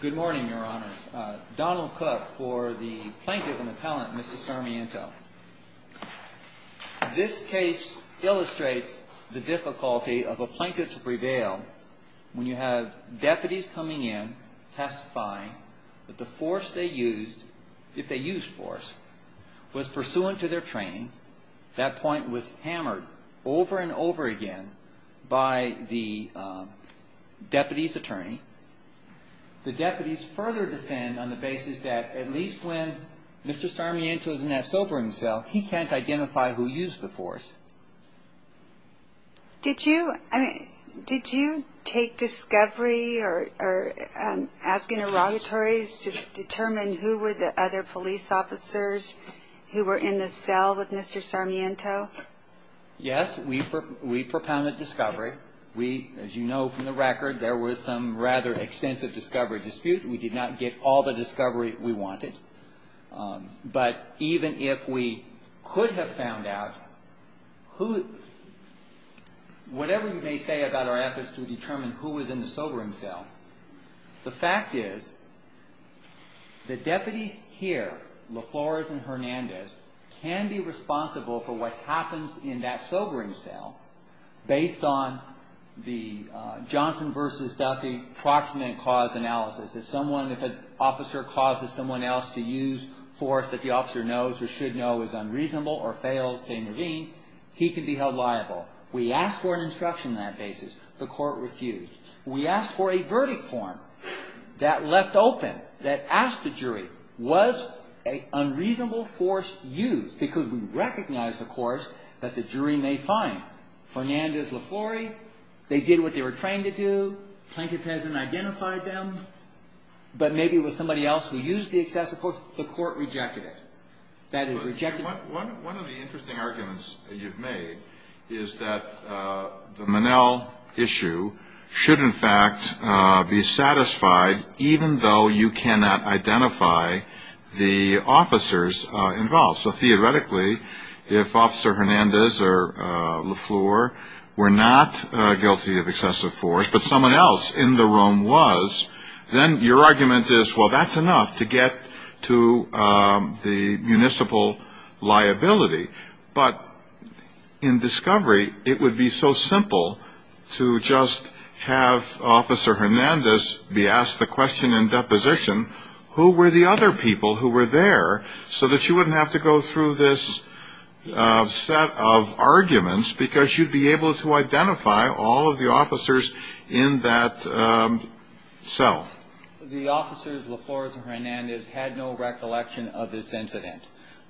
Good morning, Your Honors. Donald Cook for the Plaintiff and Appellant, Mr. Sarmiento. This case illustrates the difficulty of a plaintiff's prevail when you have deputies coming in testifying that the force they used, if they used force, was pursuant to their training. That point was hammered over and over again by the deputy's attorney. The deputies further defend on the basis that at least when Mr. Sarmiento is in that sobering cell, he can't identify who used the force. Did you take discovery or ask interrogatories to determine who were the other police officers who were in the cell with Mr. Sarmiento? Yes, we propounded discovery. We, as you know from the record, there was some rather extensive discovery dispute. We did not get all the discovery we wanted. But even if we could have found out, whatever you may say about our efforts to determine who was in the sobering cell, the fact is the deputies here, LaFlores and Hernandez, can be responsible for what happens in that sobering cell based on the Johnson v. Duffy proximate cause analysis. If an officer causes someone else to use force that the officer knows or knows, he can be held liable. We asked for an instruction on that basis. The court refused. We asked for a verdict form that left open, that asked the jury, was an unreasonable force used? Because we recognized, of course, that the jury may find Hernandez, LaFlores. They did what they were trained to do. Plaintiff hasn't identified them. But maybe it was somebody else who used the excessive force. The court rejected it. One of the interesting arguments that you've made is that the Manel issue should in fact be satisfied even though you cannot identify the officers involved. So theoretically, if Officer Hernandez or LaFlores were not guilty of excessive force, but someone else in the room was, then your argument is, well, that's enough to get to the municipal liability. But in discovery, it would be so simple to just have Officer Hernandez be asked the question in deposition, who were the other people who were there, so that you wouldn't have to go through this set of arguments because you'd be able to identify all of the officers in that cell. The officers, LaFlores and Hernandez, had no recollection of this incident.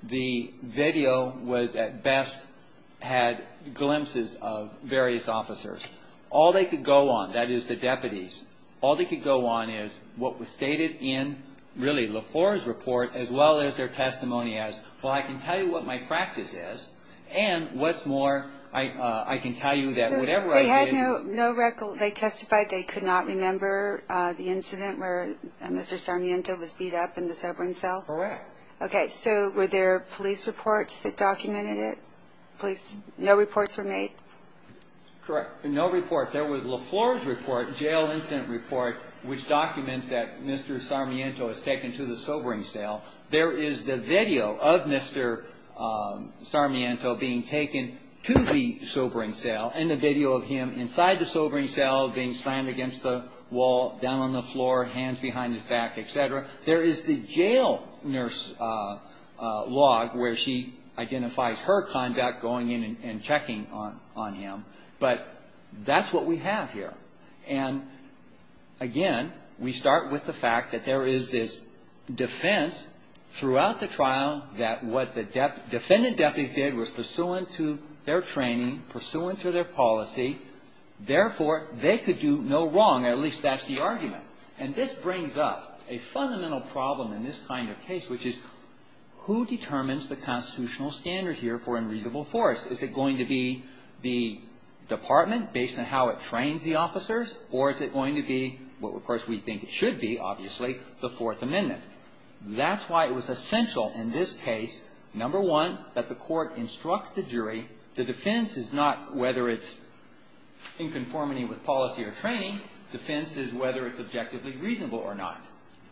The video was, at best, had glimpses of various officers. All they could go on, that is the deputies, all they could go on is what was stated in, really, LaFlores' report, as well as their testimony as, well, I can tell you what my practice is, and what's more, I can tell you that whatever I did They testified they could not remember the incident where Mr. Sarmiento was beat up in the sobering cell? Correct. Okay, so were there police reports that documented it? No reports were made? Correct. No report. There was LaFlores' report, jail incident report, which documents that Mr. Sarmiento was taken to the sobering cell. There is the video of Mr. Sarmiento being taken to the sobering cell, and the video of him inside the sobering cell being slammed against the wall, down on the floor, hands behind his back, etc. There is the jail nurse log where she identifies her conduct, going in and checking on him, but that's what we have here. And again, we start with the fact that there is this defense throughout the trial that what the defendant deputies did was pursuant to their training, pursuant to their policy, therefore, they could do no wrong, at least that's the argument. And this brings up a fundamental problem in this kind of case, which is who determines the constitutional standard here for unreasonable force? Is it going to be the department based on how it trains the officers, or is it going to be what we think it should be, obviously, the Fourth Amendment? That's why it was essential in this case, number one, that the court instructs the jury, the defense is not whether it's in conformity with policy or training, the defense is whether it's objectively reasonable or not.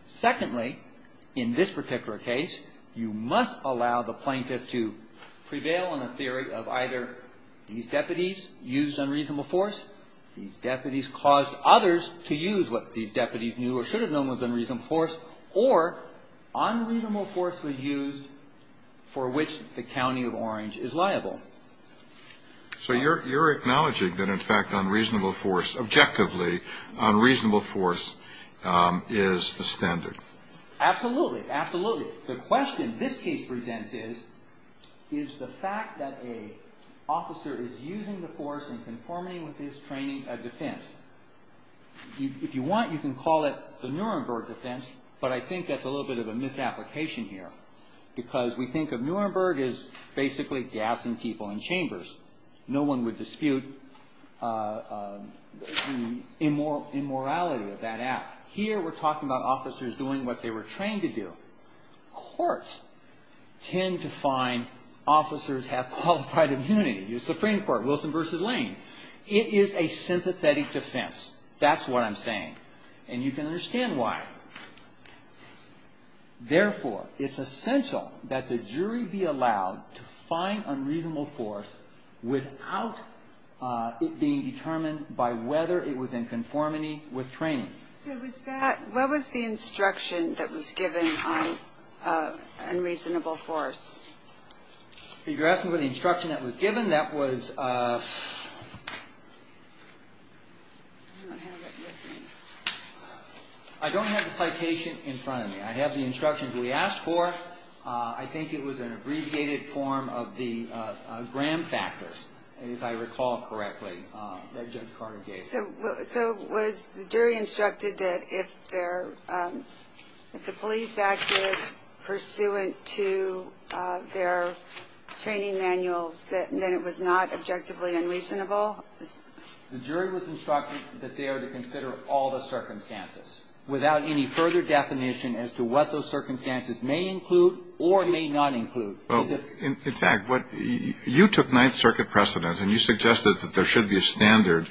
Secondly, in this particular case, you must allow the plaintiff to prevail on a theory of either these deputies used unreasonable force, these deputies caused others to use what these deputies knew or should have known was unreasonable force, or unreasonable force was used for which the county of Orange is liable. So you're acknowledging that, in fact, unreasonable force, objectively, unreasonable force is the standard? Absolutely. Absolutely. The question this case presents is, is the fact that an officer is using the force in conformity with his training a defense? If you want, you can call it the Nuremberg defense, but I think that's a little bit of a misapplication here, because we think of Nuremberg as basically gassing people in chambers. No one would dispute the immorality of that act. Here, we're talking about officers doing what they were trained to do. Courts tend to find officers have qualified immunity. The Supreme Court, Wilson v. Lane. It is a sympathetic defense. That's what I'm saying. And you can understand why. Therefore, it's essential that the jury be allowed to find unreasonable force without it being determined by whether it was in conformity with training. What was the instruction that was given on unreasonable force? If you're asking for the instruction that was given, that was... I don't have the citation in front of me. I have the instructions we asked for. I think it was an abbreviated form of the Graham factors, if I recall correctly, that Judge Carter gave. So was the jury instructed that if the police acted pursuant to their training manuals, that it was not objectively unreasonable? The jury was instructed that they are to consider all the circumstances without any further definition as to what those circumstances may include or may not include. In fact, you took Ninth Circuit precedent and you suggested that there should be a standard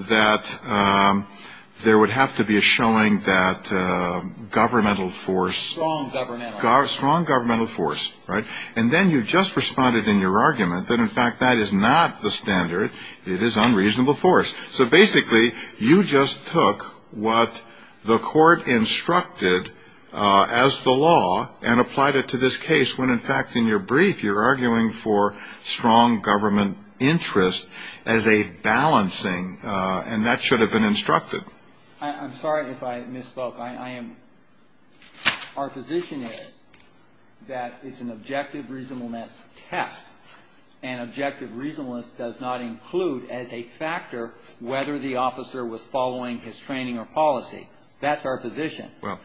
that there would have to be a showing that governmental force... Strong governmental. Strong governmental force, right? And then you just responded in your argument that, in fact, that is not the standard. It is unreasonable force. So basically, you just took what the court instructed as the law and applied it to this case when, in fact, in your brief, you're arguing for strong government interest as a balancing, and that should have been instructed. I'm sorry if I misspoke. I am... Our position is that it's an objective reasonableness test, and objective reasonableness does not include as a factor whether the officer was following his training or policy. That's our position. Well,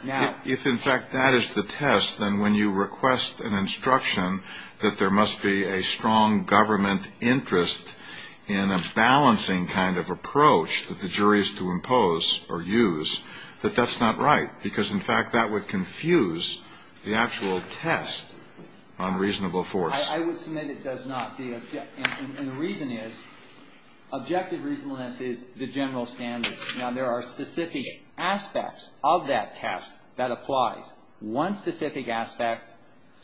if, in fact, that is the test, then when you request an instruction that there must be a strong government interest in a balancing kind of approach that the jury is to impose or use, that that's not right, because, in fact, that would confuse the actual test on reasonable force. I would submit it does not. And the reason is, objective reasonableness is the general standard. Now, there are specific aspects of that test that applies. One specific aspect,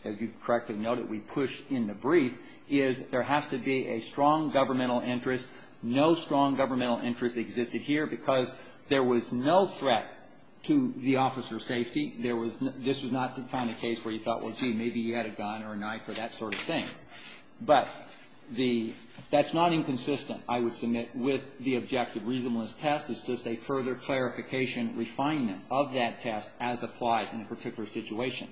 as you correctly noted, we pushed in the brief, is there has to be a strong governmental interest. No strong governmental interest existed here because there was no threat to the officer's safety. There was no – this was not to find a case where you thought, well, gee, maybe you had a gun or a knife or that sort of thing. But the – that's not inconsistent, I would submit, with the objective reasonableness test. It's just a further clarification, refinement of that test as applied in a particular situation.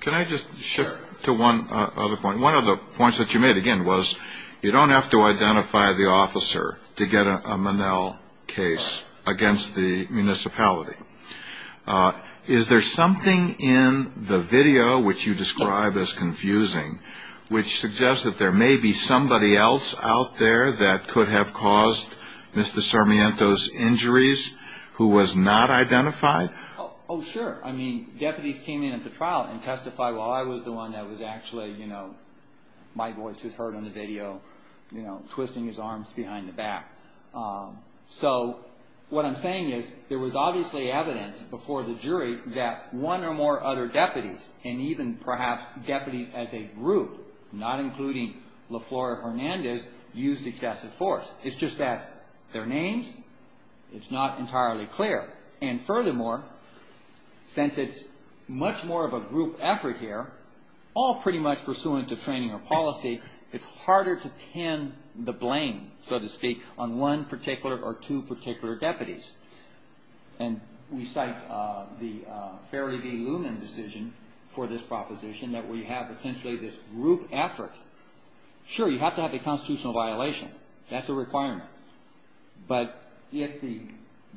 Can I just shift to one other point? One of the points that you made, again, was you don't have to identify the officer to get a Monell case against the municipality. Is there something in the video, which you describe as confusing, which suggests that there may be somebody else out there that could have caused Mr. Sarmiento's injuries who was not identified? Oh, sure. I mean, deputies came in at the trial and testified while I was the one that was actually, you know, my voice is heard on the video, you know, twisting his arms behind the back. So what I'm saying is there was obviously evidence before the jury that one or more other deputies, and even perhaps deputies as a group, not including LaFleur Hernandez, used excessive force. It's just that their names, it's not entirely clear. And furthermore, since it's much more of a group effort here, all pretty much pursuant to training or policy, it's harder to pin the blame, so to speak, on one particular or two particular deputies. And we cite the Ferry v. Loonan decision for this proposition that we have essentially this group effort. Sure, you have to have a constitutional violation. That's a requirement. But if the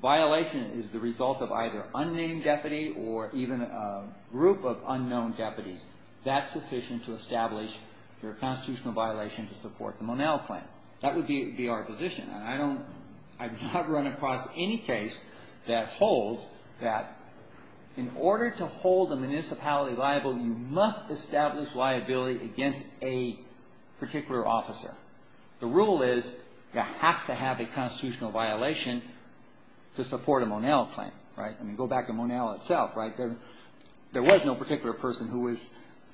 violation is the result of either unnamed deputy or even a group of unknown deputies, that's sufficient to establish your constitutional violation to support the Monell claim. That would be our position. And I don't, I've not run across any case that holds that in order to hold a municipality liable, you must establish liability against a particular officer. The rule is you have to have a constitutional violation to support a Monell claim, right? I mean, go back to Monell itself, right? There was no particular person who was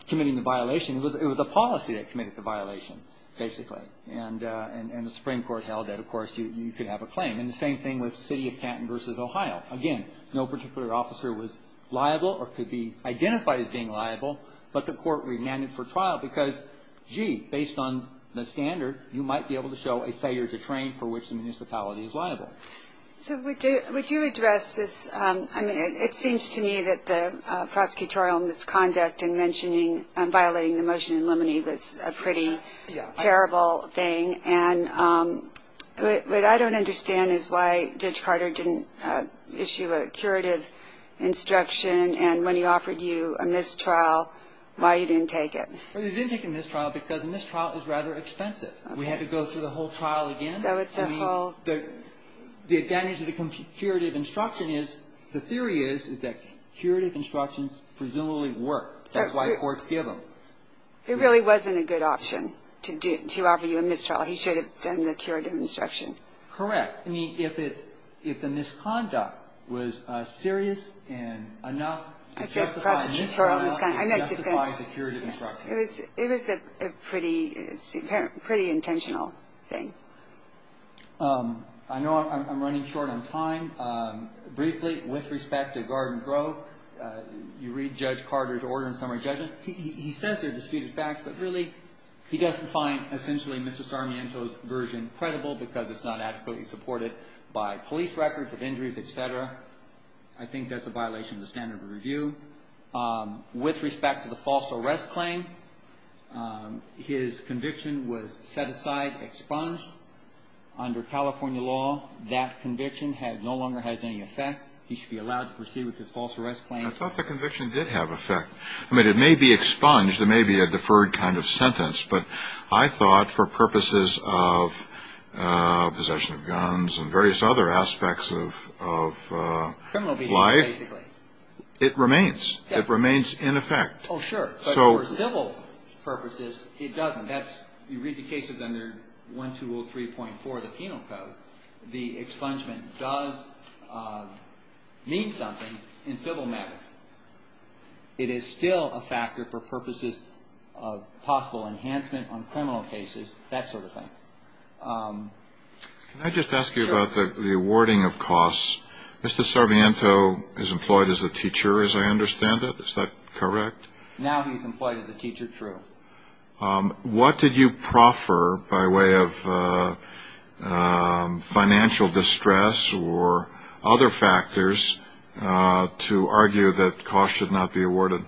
committing the violation. It was the policy that committed the violation, basically. And the Supreme Court held that, of course, you could have a claim. And the same thing with the City of Canton v. Ohio. Again, no particular officer was liable or could be identified as being liable, but the court remanded for trial because, gee, based on the standard, you might be able to show a failure to train for which the municipality is liable. So would you address this? I mean, it seems to me that the prosecutorial misconduct in mentioning and violating the motion in limine was a pretty terrible thing. And what I don't understand is why Judge Carter didn't issue a curative instruction and when he offered you a missed trial, why you didn't take it. Well, he didn't take a missed trial because a missed trial is rather expensive. We had to go through the whole trial again. I mean, the advantage of the curative instruction is, the theory is, is that curative instructions presumably work. That's why courts give them. It really wasn't a good option to offer you a missed trial. He should have done the curative instruction. Correct. I mean, if the misconduct was serious and enough to justify a missed trial, it justifies a curative instruction. It was a pretty intentional thing. I know I'm running short on time. Briefly, with respect to Garden Grove, you read Judge Carter's order in summary judgment. He says they're disputed facts, but really he doesn't find essentially Mr. Sarmiento's version credible because it's not adequately supported by police records of injuries, et cetera. I think that's a violation of the standard of review. With respect to the false arrest claim, his conviction was set aside, expunged. Under California law, that conviction no longer has any effect. He should be allowed to proceed with his false arrest claim. I thought the conviction did have effect. I mean, it may be expunged. It may be a deferred kind of sentence. But I thought for purposes of possession of guns and various other aspects of life, it remains. It remains in effect. Oh, sure. But for civil purposes, it doesn't. You read the cases under 1203.4 of the Penal Code, the expungement does mean something in civil matter. It is still a factor for purposes of possible enhancement on criminal cases, that sort of thing. Can I just ask you about the awarding of costs? Mr. Sarmiento is employed as a teacher, as I understand it. Is that correct? Now he's employed as a teacher, true. What did you proffer by way of financial distress or other factors to argue that costs should not be awarded?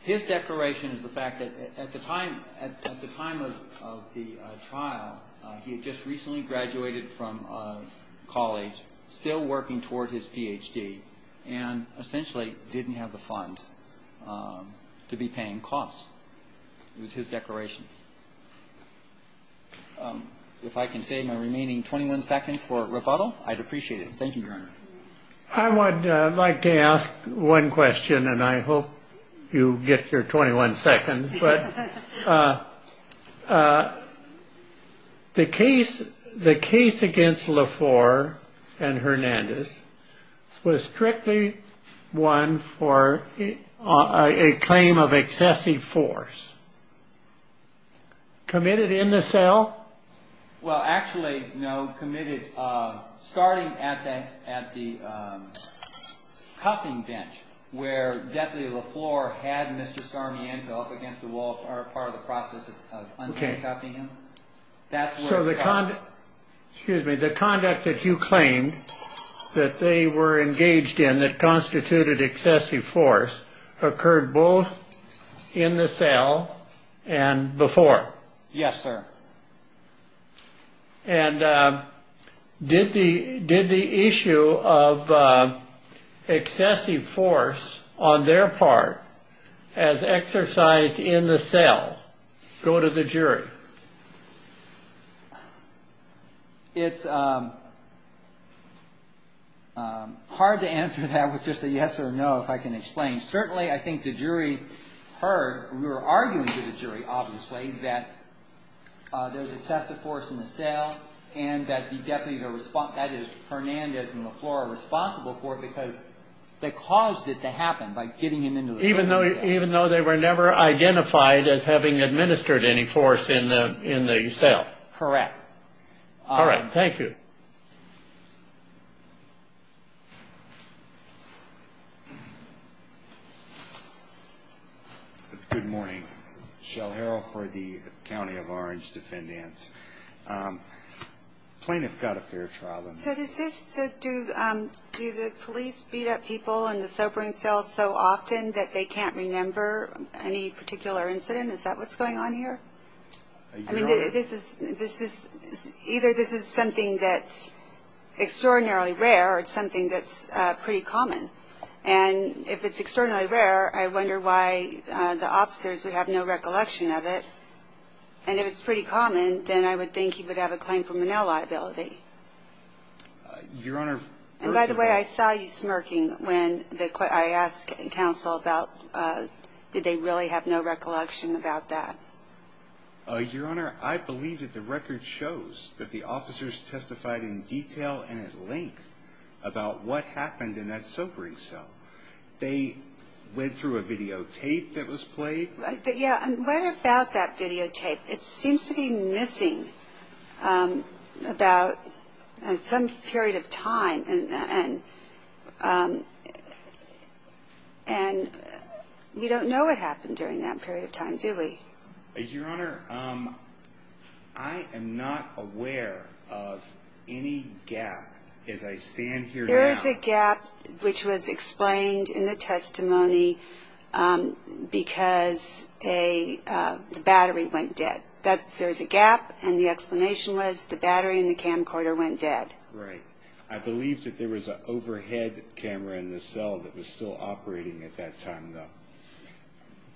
His declaration is the fact that at the time of the trial, he had just recently graduated from college, still working toward his Ph.D., and essentially didn't have the funds to be paying costs. It was his declaration. If I can save my remaining 21 seconds for rebuttal, I'd appreciate it. Thank you. I would like to ask one question and I hope you get your 21 seconds. But the case, the case against LaFleur and Hernandez was strictly one for a claim of excessive force committed in the cell. Well, actually, no committed starting at that at the cuffing bench where definitely LaFleur had Mr. Sarmiento up against the wall or part of the process of uncuffing him. So the conduct, excuse me, the conduct that you claim that they were engaged in that constituted excessive force occurred both in the cell and before. Yes, sir. And did the did the issue of excessive force on their part as exercise in the cell go to the jury? It's hard to answer that with just a yes or no. I don't know if I can explain. Certainly, I think the jury heard we were arguing to the jury, obviously, that there was excessive force in the cell and that the deputy, Hernandez and LaFleur were responsible for it because they caused it to happen by getting him into the cell. Even though even though they were never identified as having administered any force in the cell. Correct. All right. Thank you. Good morning. Shell Harrell for the County of Orange defendants. Plaintiff got a fair trial. So does this do do the police beat up people in the sobering cells so often that they can't remember any particular incident? Is that what's going on here? I mean, this is this is either this is something that's extraordinarily rare or something that's pretty common. And if it's extraordinarily rare, I wonder why the officers would have no recollection of it. And it's pretty common. Then I would think he would have a claim for manila liability. Your Honor, by the way, I saw you smirking when I asked counsel about did they really have no recollection about that? Your Honor, I believe that the record shows that the officers testified in detail and at length about what happened in that sobering cell. They went through a videotape that was played. Yeah. And what about that videotape? It seems to be missing about some period of time. And and we don't know what happened during that period of time, do we? Your Honor, I am not aware of any gap as I stand here. There is a gap which was explained in the testimony because a battery went dead. That's there's a gap. And the explanation was the battery in the camcorder went dead. Right. I believe that there was an overhead camera in the cell that was still operating at that time, though.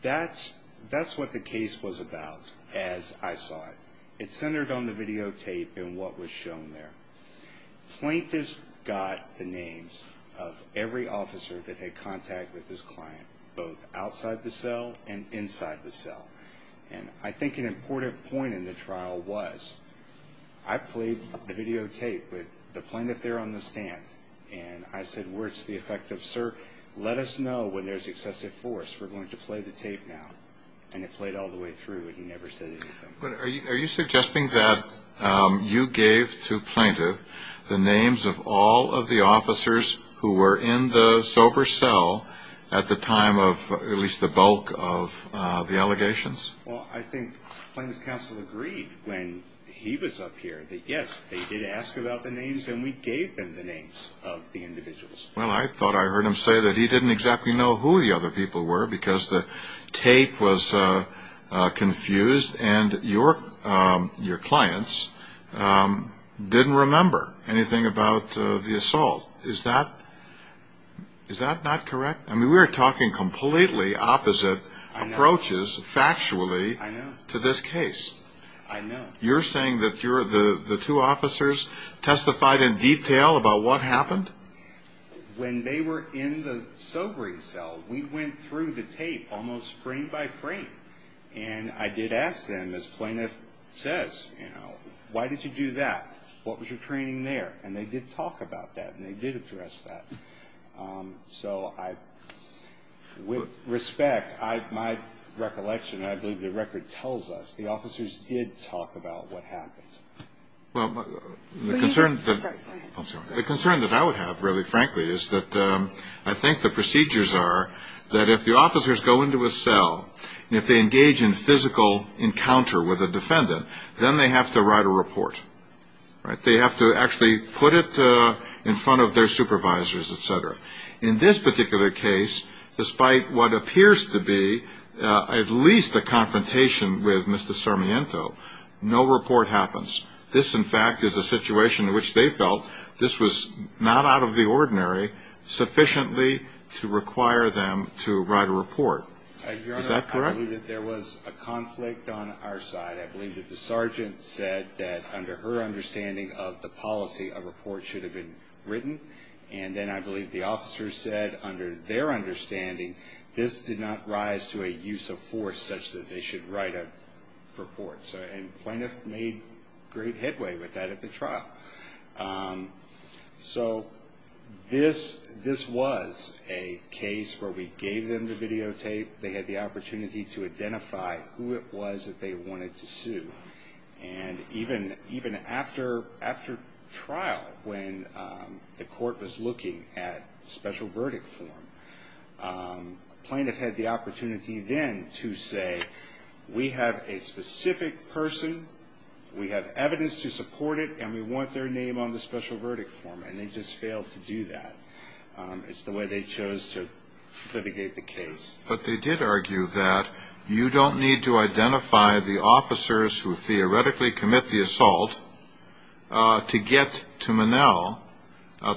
That's that's what the case was about. As I saw it, it centered on the videotape and what was shown there. Plaintiff's got the names of every officer that had contact with this client, both outside the cell and inside the cell. And I think an important point in the trial was I played the videotape with the plaintiff there on the stand. And I said, words to the effect of, sir, let us know when there's excessive force. We're going to play the tape now. And it played all the way through. Are you suggesting that you gave to plaintiff the names of all of the officers who were in the sober cell at the time of at least the bulk of the allegations? Well, I think Plaintiff's counsel agreed when he was up here that, yes, they did ask about the names and we gave them the names of the individuals. Well, I thought I heard him say that he didn't exactly know who the other people were because the tape was confused and your your clients didn't remember anything about the assault. Is that is that not correct? I mean, we're talking completely opposite approaches factually to this case. I know you're saying that you're the two officers testified in detail about what happened when they were in the sobering cell. We went through the tape almost frame by frame. And I did ask them, as plaintiff says, you know, why did you do that? What was your training there? And they did talk about that and they did address that. So I would respect my recollection. I believe the record tells us the officers did talk about what happened. Well, the concern that the concern that I would have, really, frankly, is that I think the procedures are that if the officers go into a cell, if they engage in physical encounter with a defendant, then they have to write a report. They have to actually put it in front of their supervisors, et cetera. In this particular case, despite what appears to be at least a confrontation with Mr. Sarmiento, no report happens. This, in fact, is a situation in which they felt this was not out of the ordinary sufficiently to require them to write a report. Is that correct? Your Honor, I believe that there was a conflict on our side. I believe that the sergeant said that under her understanding of the policy, a report should have been written. And then I believe the officers said, under their understanding, this did not rise to a use of force such that they should write a report. And plaintiff made great headway with that at the trial. So this was a case where we gave them the videotape. They had the opportunity to identify who it was that they wanted to sue. And even after trial, when the court was looking at special verdict form, plaintiff had the opportunity then to say, we have a specific person, we have evidence to support it, and we want their name on the special verdict form. And they just failed to do that. It's the way they chose to litigate the case. But they did argue that you don't need to identify the officers who theoretically commit the assault to get to Monell,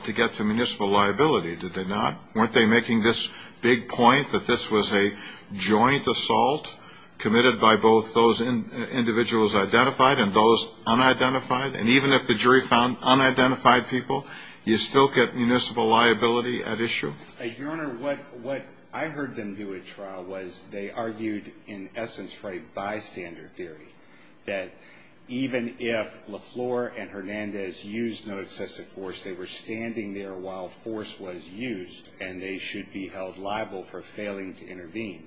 to get to municipal liability, did they not? Weren't they making this big point that this was a joint assault committed by both those individuals identified and those unidentified? And even if the jury found unidentified people, you still get municipal liability at issue? Your Honor, what I heard them do at trial was they argued in essence for a bystander theory, that even if LaFleur and Hernandez used no excessive force, they were standing there while force was used, and they should be held liable for failing to intervene.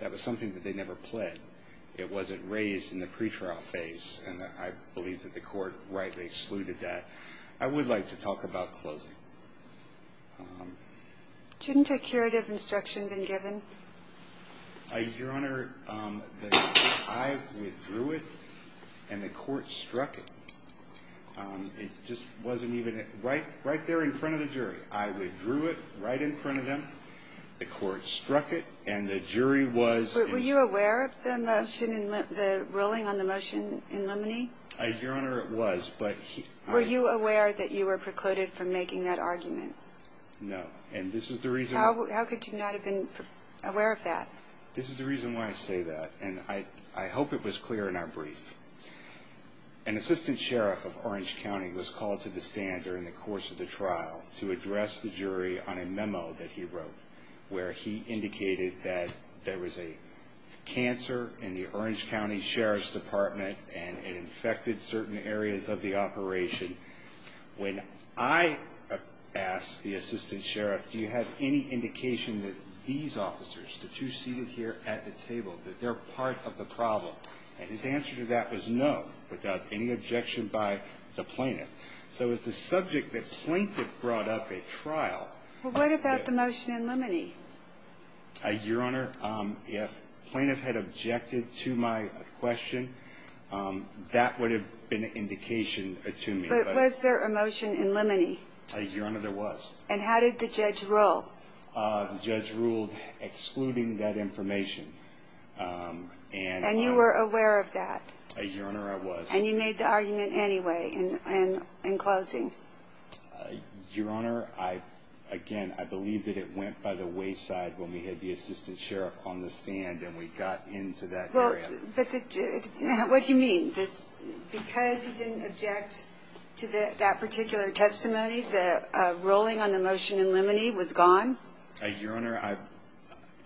That was something that they never pled. It wasn't raised in the pretrial phase, and I believe that the court rightly excluded that. I would like to talk about closing. Shouldn't a curative instruction been given? Your Honor, I withdrew it, and the court struck it. It just wasn't even right there in front of the jury. I withdrew it right in front of them. The court struck it, and the jury was... Were you aware of the ruling on the motion in Limoney? Your Honor, it was, but... Were you aware that you were precluded from making that argument? No, and this is the reason... How could you not have been aware of that? This is the reason why I say that, and I hope it was clear in our brief. An assistant sheriff of Orange County was called to the stand during the course of the trial to address the jury on a memo that he wrote, where he indicated that there was a cancer in the Orange County Sheriff's Department, and it infected certain areas of the operation. When I asked the assistant sheriff, do you have any indication that these officers, the two seated here at the table, that they're part of the problem? And his answer to that was no, without any objection by the plaintiff. So it's a subject that plaintiff brought up at trial. Well, what about the motion in Limoney? Your Honor, if plaintiff had objected to my question, that would have been an indication to me. But was there a motion in Limoney? Your Honor, there was. And how did the judge rule? The judge ruled excluding that information. And you were aware of that? Your Honor, I was. And you made the argument anyway in closing? Your Honor, again, I believe that it went by the wayside when we had the assistant sheriff on the stand and we got into that area. What do you mean? Because he didn't object to that particular testimony, the ruling on the motion in Limoney was gone? Your Honor, I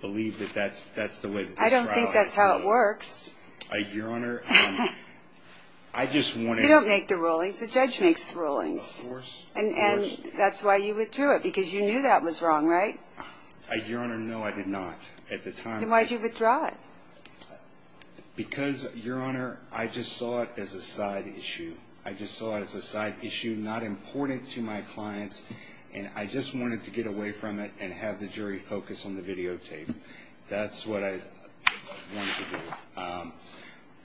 believe that that's the way the trial has been. I don't think that's how it works. Your Honor, I just wanted to... You don't make the rulings. The judge makes the rulings. Of course. And that's why you withdrew it, because you knew that was wrong, right? Your Honor, no, I did not at the time. Then why'd you withdraw it? Because, Your Honor, I just saw it as a side issue. I just saw it as a side issue, not important to my clients, and I just wanted to get away from it and have the jury focus on the videotape. That's what I wanted to do.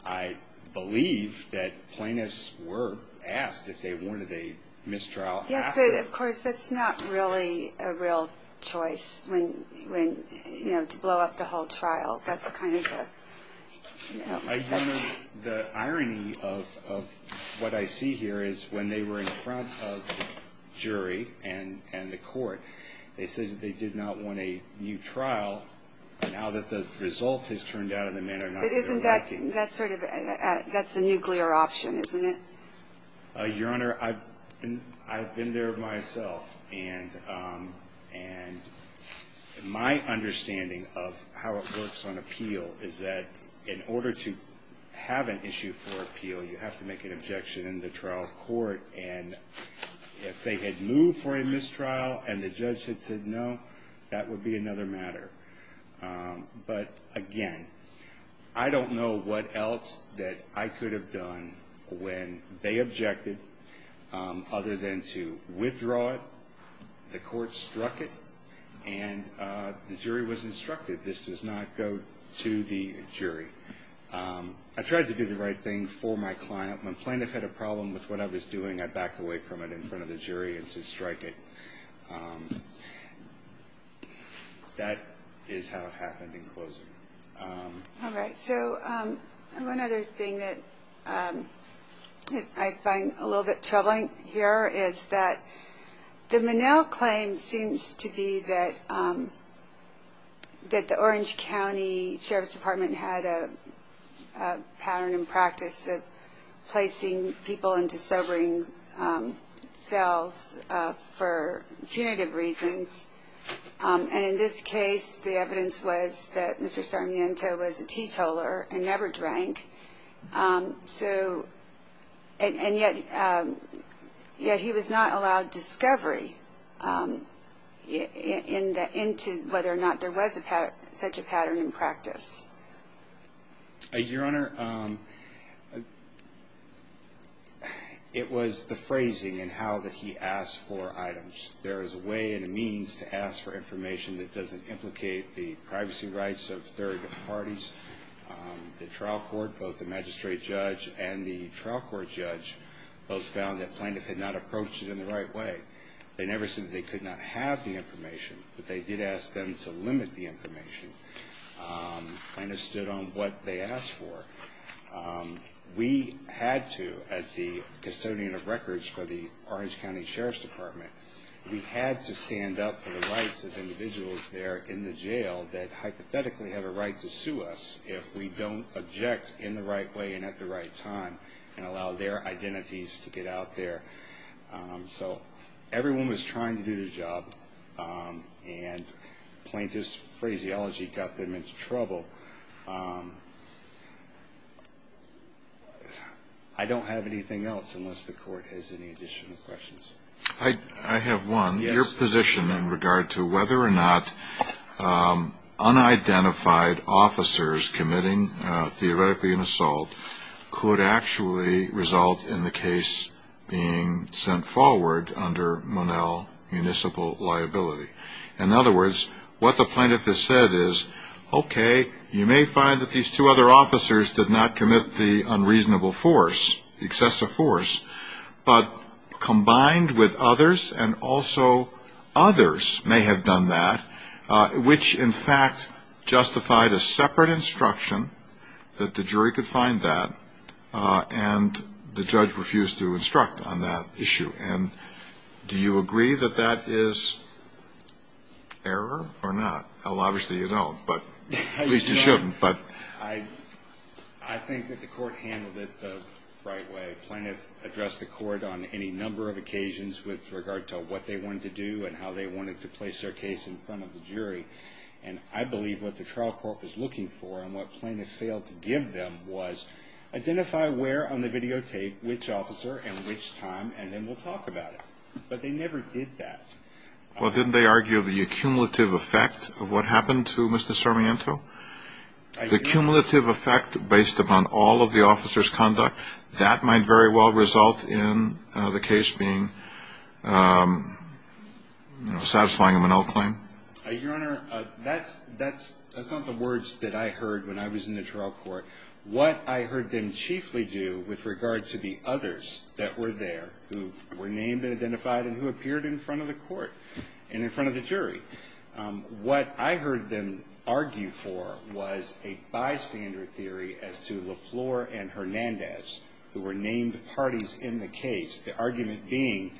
I believe that plaintiffs were asked if they wanted a mistrial after... I don't know. The irony of what I see here is when they were in front of the jury and the court, they said that they did not want a new trial. Now that the result has turned out in the matter, I'm not sure they're liking it. That's a nuclear option, isn't it? Your Honor, I've been there myself, and my understanding of how it works on appeal is that in order to have an issue for appeal, you have to make an objection in the trial court, and if they had moved for a mistrial and the judge had said no, that would be another matter. But, again, I don't know what else that I could have done when they objected other than to withdraw it, the court struck it, and the jury was instructed, this does not go to the jury. I tried to do the right thing for my client. My plaintiff had a problem with what I was doing. I backed away from it in front of the jury and to strike it. That is how it happened in closing. All right. So one other thing that I find a little bit troubling here is that the Monell claim seems to be that the Orange County Sheriff's Department had a pattern and practice of placing people into sobering cells for punitive reasons, and in this case the evidence was that Mr. Sarmiento was a teetoler and never drank, and yet he was not allowed discovery into whether or not there was such a pattern in practice. Your Honor, it was the phrasing and how he asked for items. There is a way and a means to ask for information that doesn't implicate the privacy rights of third parties. The trial court, both the magistrate judge and the trial court judge, both found that plaintiff had not approached it in the right way. They never said that they could not have the information, but they did ask them to limit the information. Plaintiff stood on what they asked for. We had to, as the custodian of records for the Orange County Sheriff's Department, we had to stand up for the rights of individuals there in the jail that hypothetically had a right to sue us if we don't object in the right way and at the right time and allow their identities to get out there. So everyone was trying to do their job, and plaintiff's phraseology got them into trouble. I don't have anything else unless the court has any additional questions. I have one. Your position in regard to whether or not unidentified officers committing theoretically an assault could actually result in the case being sent forward under Monell municipal liability. In other words, what the plaintiff has said is, okay, you may find that these two other officers did not commit the unreasonable force, excessive force, but combined with others, and also others may have done that, which in fact justified a separate instruction that the jury could find that, and the judge refused to instruct on that issue. And do you agree that that is error or not? Well, obviously you don't, but at least you shouldn't. I think that the court handled it the right way. Plaintiff addressed the court on any number of occasions with regard to what they wanted to do and how they wanted to place their case in front of the jury. And I believe what the trial court was looking for and what plaintiff failed to give them was identify where on the videotape, which officer and which time, and then we'll talk about it. But they never did that. Well, didn't they argue the accumulative effect of what happened to Mr. Sarmiento? The accumulative effect based upon all of the officer's conduct, that might very well result in the case being satisfying a Monell claim. Your Honor, that's not the words that I heard when I was in the trial court. What I heard them chiefly do with regard to the others that were there who were named and identified and who appeared in front of the court and in front of the jury, what I heard them argue for was a bystander theory as to LaFleur and Hernandez, who were named parties in the case, the argument being,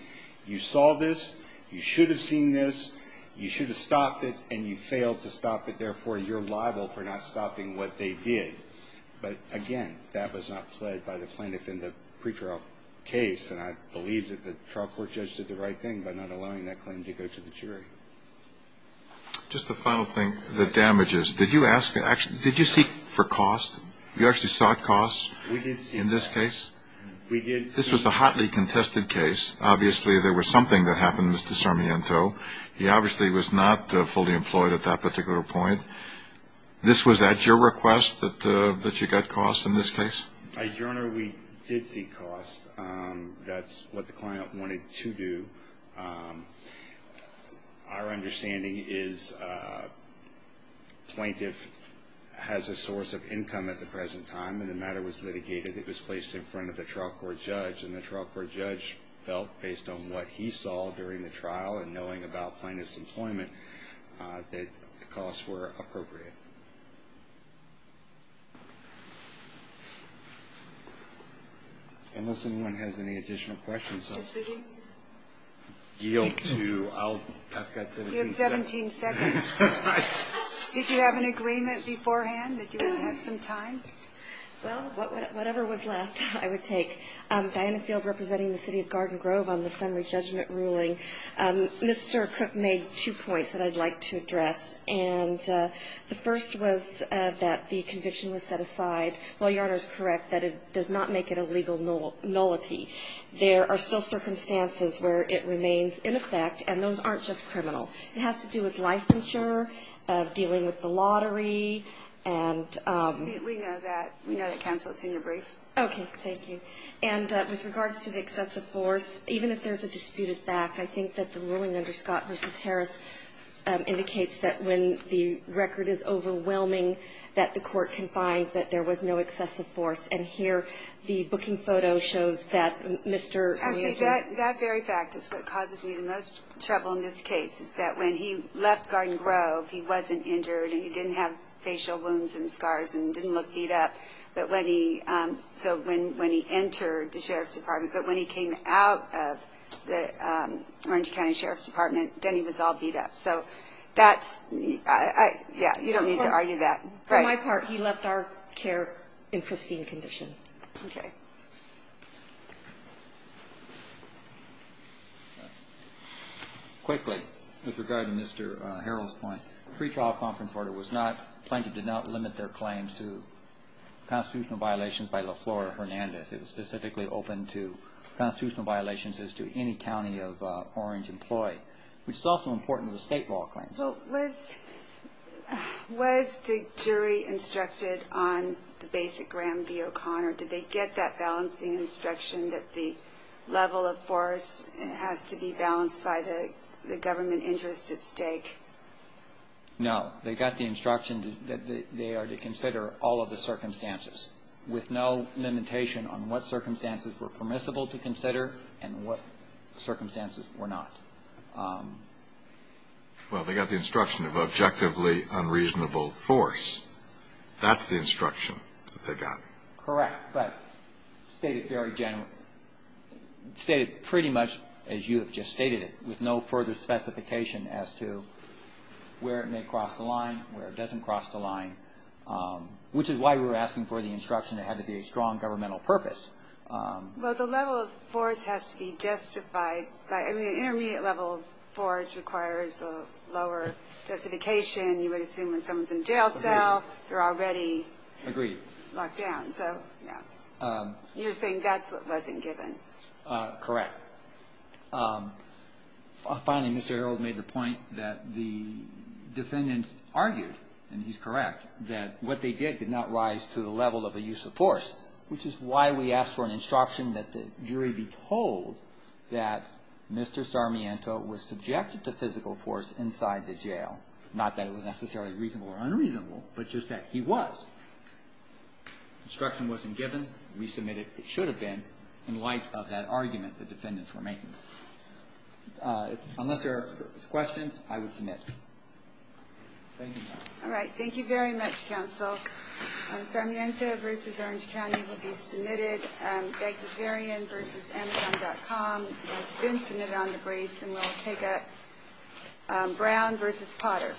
you saw this, you should have seen this, you should have stopped it, and you failed to stop it, but again, that was not pled by the plaintiff in the pretrial case, and I believe that the trial court judge did the right thing by not allowing that claim to go to the jury. Just a final thing, the damages. Did you ask, did you seek for cost? You actually sought cost in this case? We did seek cost. This was a hotly contested case. Obviously, there was something that happened to Mr. Sarmiento. He obviously was not fully employed at that particular point. This was at your request that you got cost in this case? Your Honor, we did seek cost. That's what the client wanted to do. Our understanding is plaintiff has a source of income at the present time, and the matter was litigated. It was placed in front of the trial court judge, and the trial court judge felt based on what he saw during the trial and knowing about plaintiff's employment that the costs were appropriate. Unless anyone has any additional questions, I'll yield to, I've got 17 seconds. You have 17 seconds. Did you have an agreement beforehand that you would have some time? Well, whatever was left, I would take. Diana Field representing the city of Garden Grove on the summary judgment ruling. Mr. Cook made two points that I'd like to address. And the first was that the conviction was set aside. Well, Your Honor is correct that it does not make it a legal nullity. There are still circumstances where it remains in effect, and those aren't just criminal. It has to do with licensure, dealing with the lottery, and we know that. We know that, Counsel. It's in your brief. Okay. Thank you. And with regards to the excessive force, even if there's a disputed fact, I think that the ruling under Scott v. Harris indicates that when the record is overwhelming, that the court can find that there was no excessive force. And here the booking photo shows that Mr. Lee had been ---- Actually, that very fact is what causes me the most trouble in this case, is that when he left Garden Grove, he wasn't injured, and he didn't have facial wounds and scars and didn't look beat up. But when he entered the Sheriff's Department, but when he came out of the Orange County Sheriff's Department, then he was all beat up. So that's, yeah, you don't need to argue that. For my part, he left our care in pristine condition. Okay. Quickly, with regard to Mr. Harrell's point, the pre-trial conference order was not ---- did not limit their claims to constitutional violations by LaFleur Hernandez. It was specifically open to constitutional violations as to any county of Orange employee, which is also important to the state law claims. Well, was the jury instructed on the basic Graham v. O'Connor? Did they get that balancing instruction that the level of force has to be balanced by the government interest at stake? No. They got the instruction that they are to consider all of the circumstances with no limitation on what circumstances were permissible to consider and what circumstances were not. Well, they got the instruction of objectively unreasonable force. That's the instruction that they got. Correct. Stated pretty much as you have just stated it, with no further specification as to where it may cross the line, where it doesn't cross the line, which is why we were asking for the instruction it had to be a strong governmental purpose. Well, the level of force has to be justified by ---- I mean, an intermediate level of force requires a lower justification. You would assume when someone's in a jail cell, they're already ---- Agreed. Locked down. So, yeah. You're saying that's what wasn't given. Correct. Finally, Mr. Earle made the point that the defendants argued, and he's correct, that what they did did not rise to the level of a use of force, which is why we asked for an instruction that the jury be told that Mr. Sarmiento was subjected to physical force inside the jail, not that it was necessarily reasonable or unreasonable, but just that he was. Instruction wasn't given. We submitted it should have been in light of that argument the defendants were making. Unless there are questions, I would submit. Thank you, counsel. All right. Thank you very much, counsel. Sarmiento v. Orange County will be submitted. Beg-to-Zerian v. Amazon.com has been submitted on the briefs, and we'll take up Brown v. Potter. Thank you.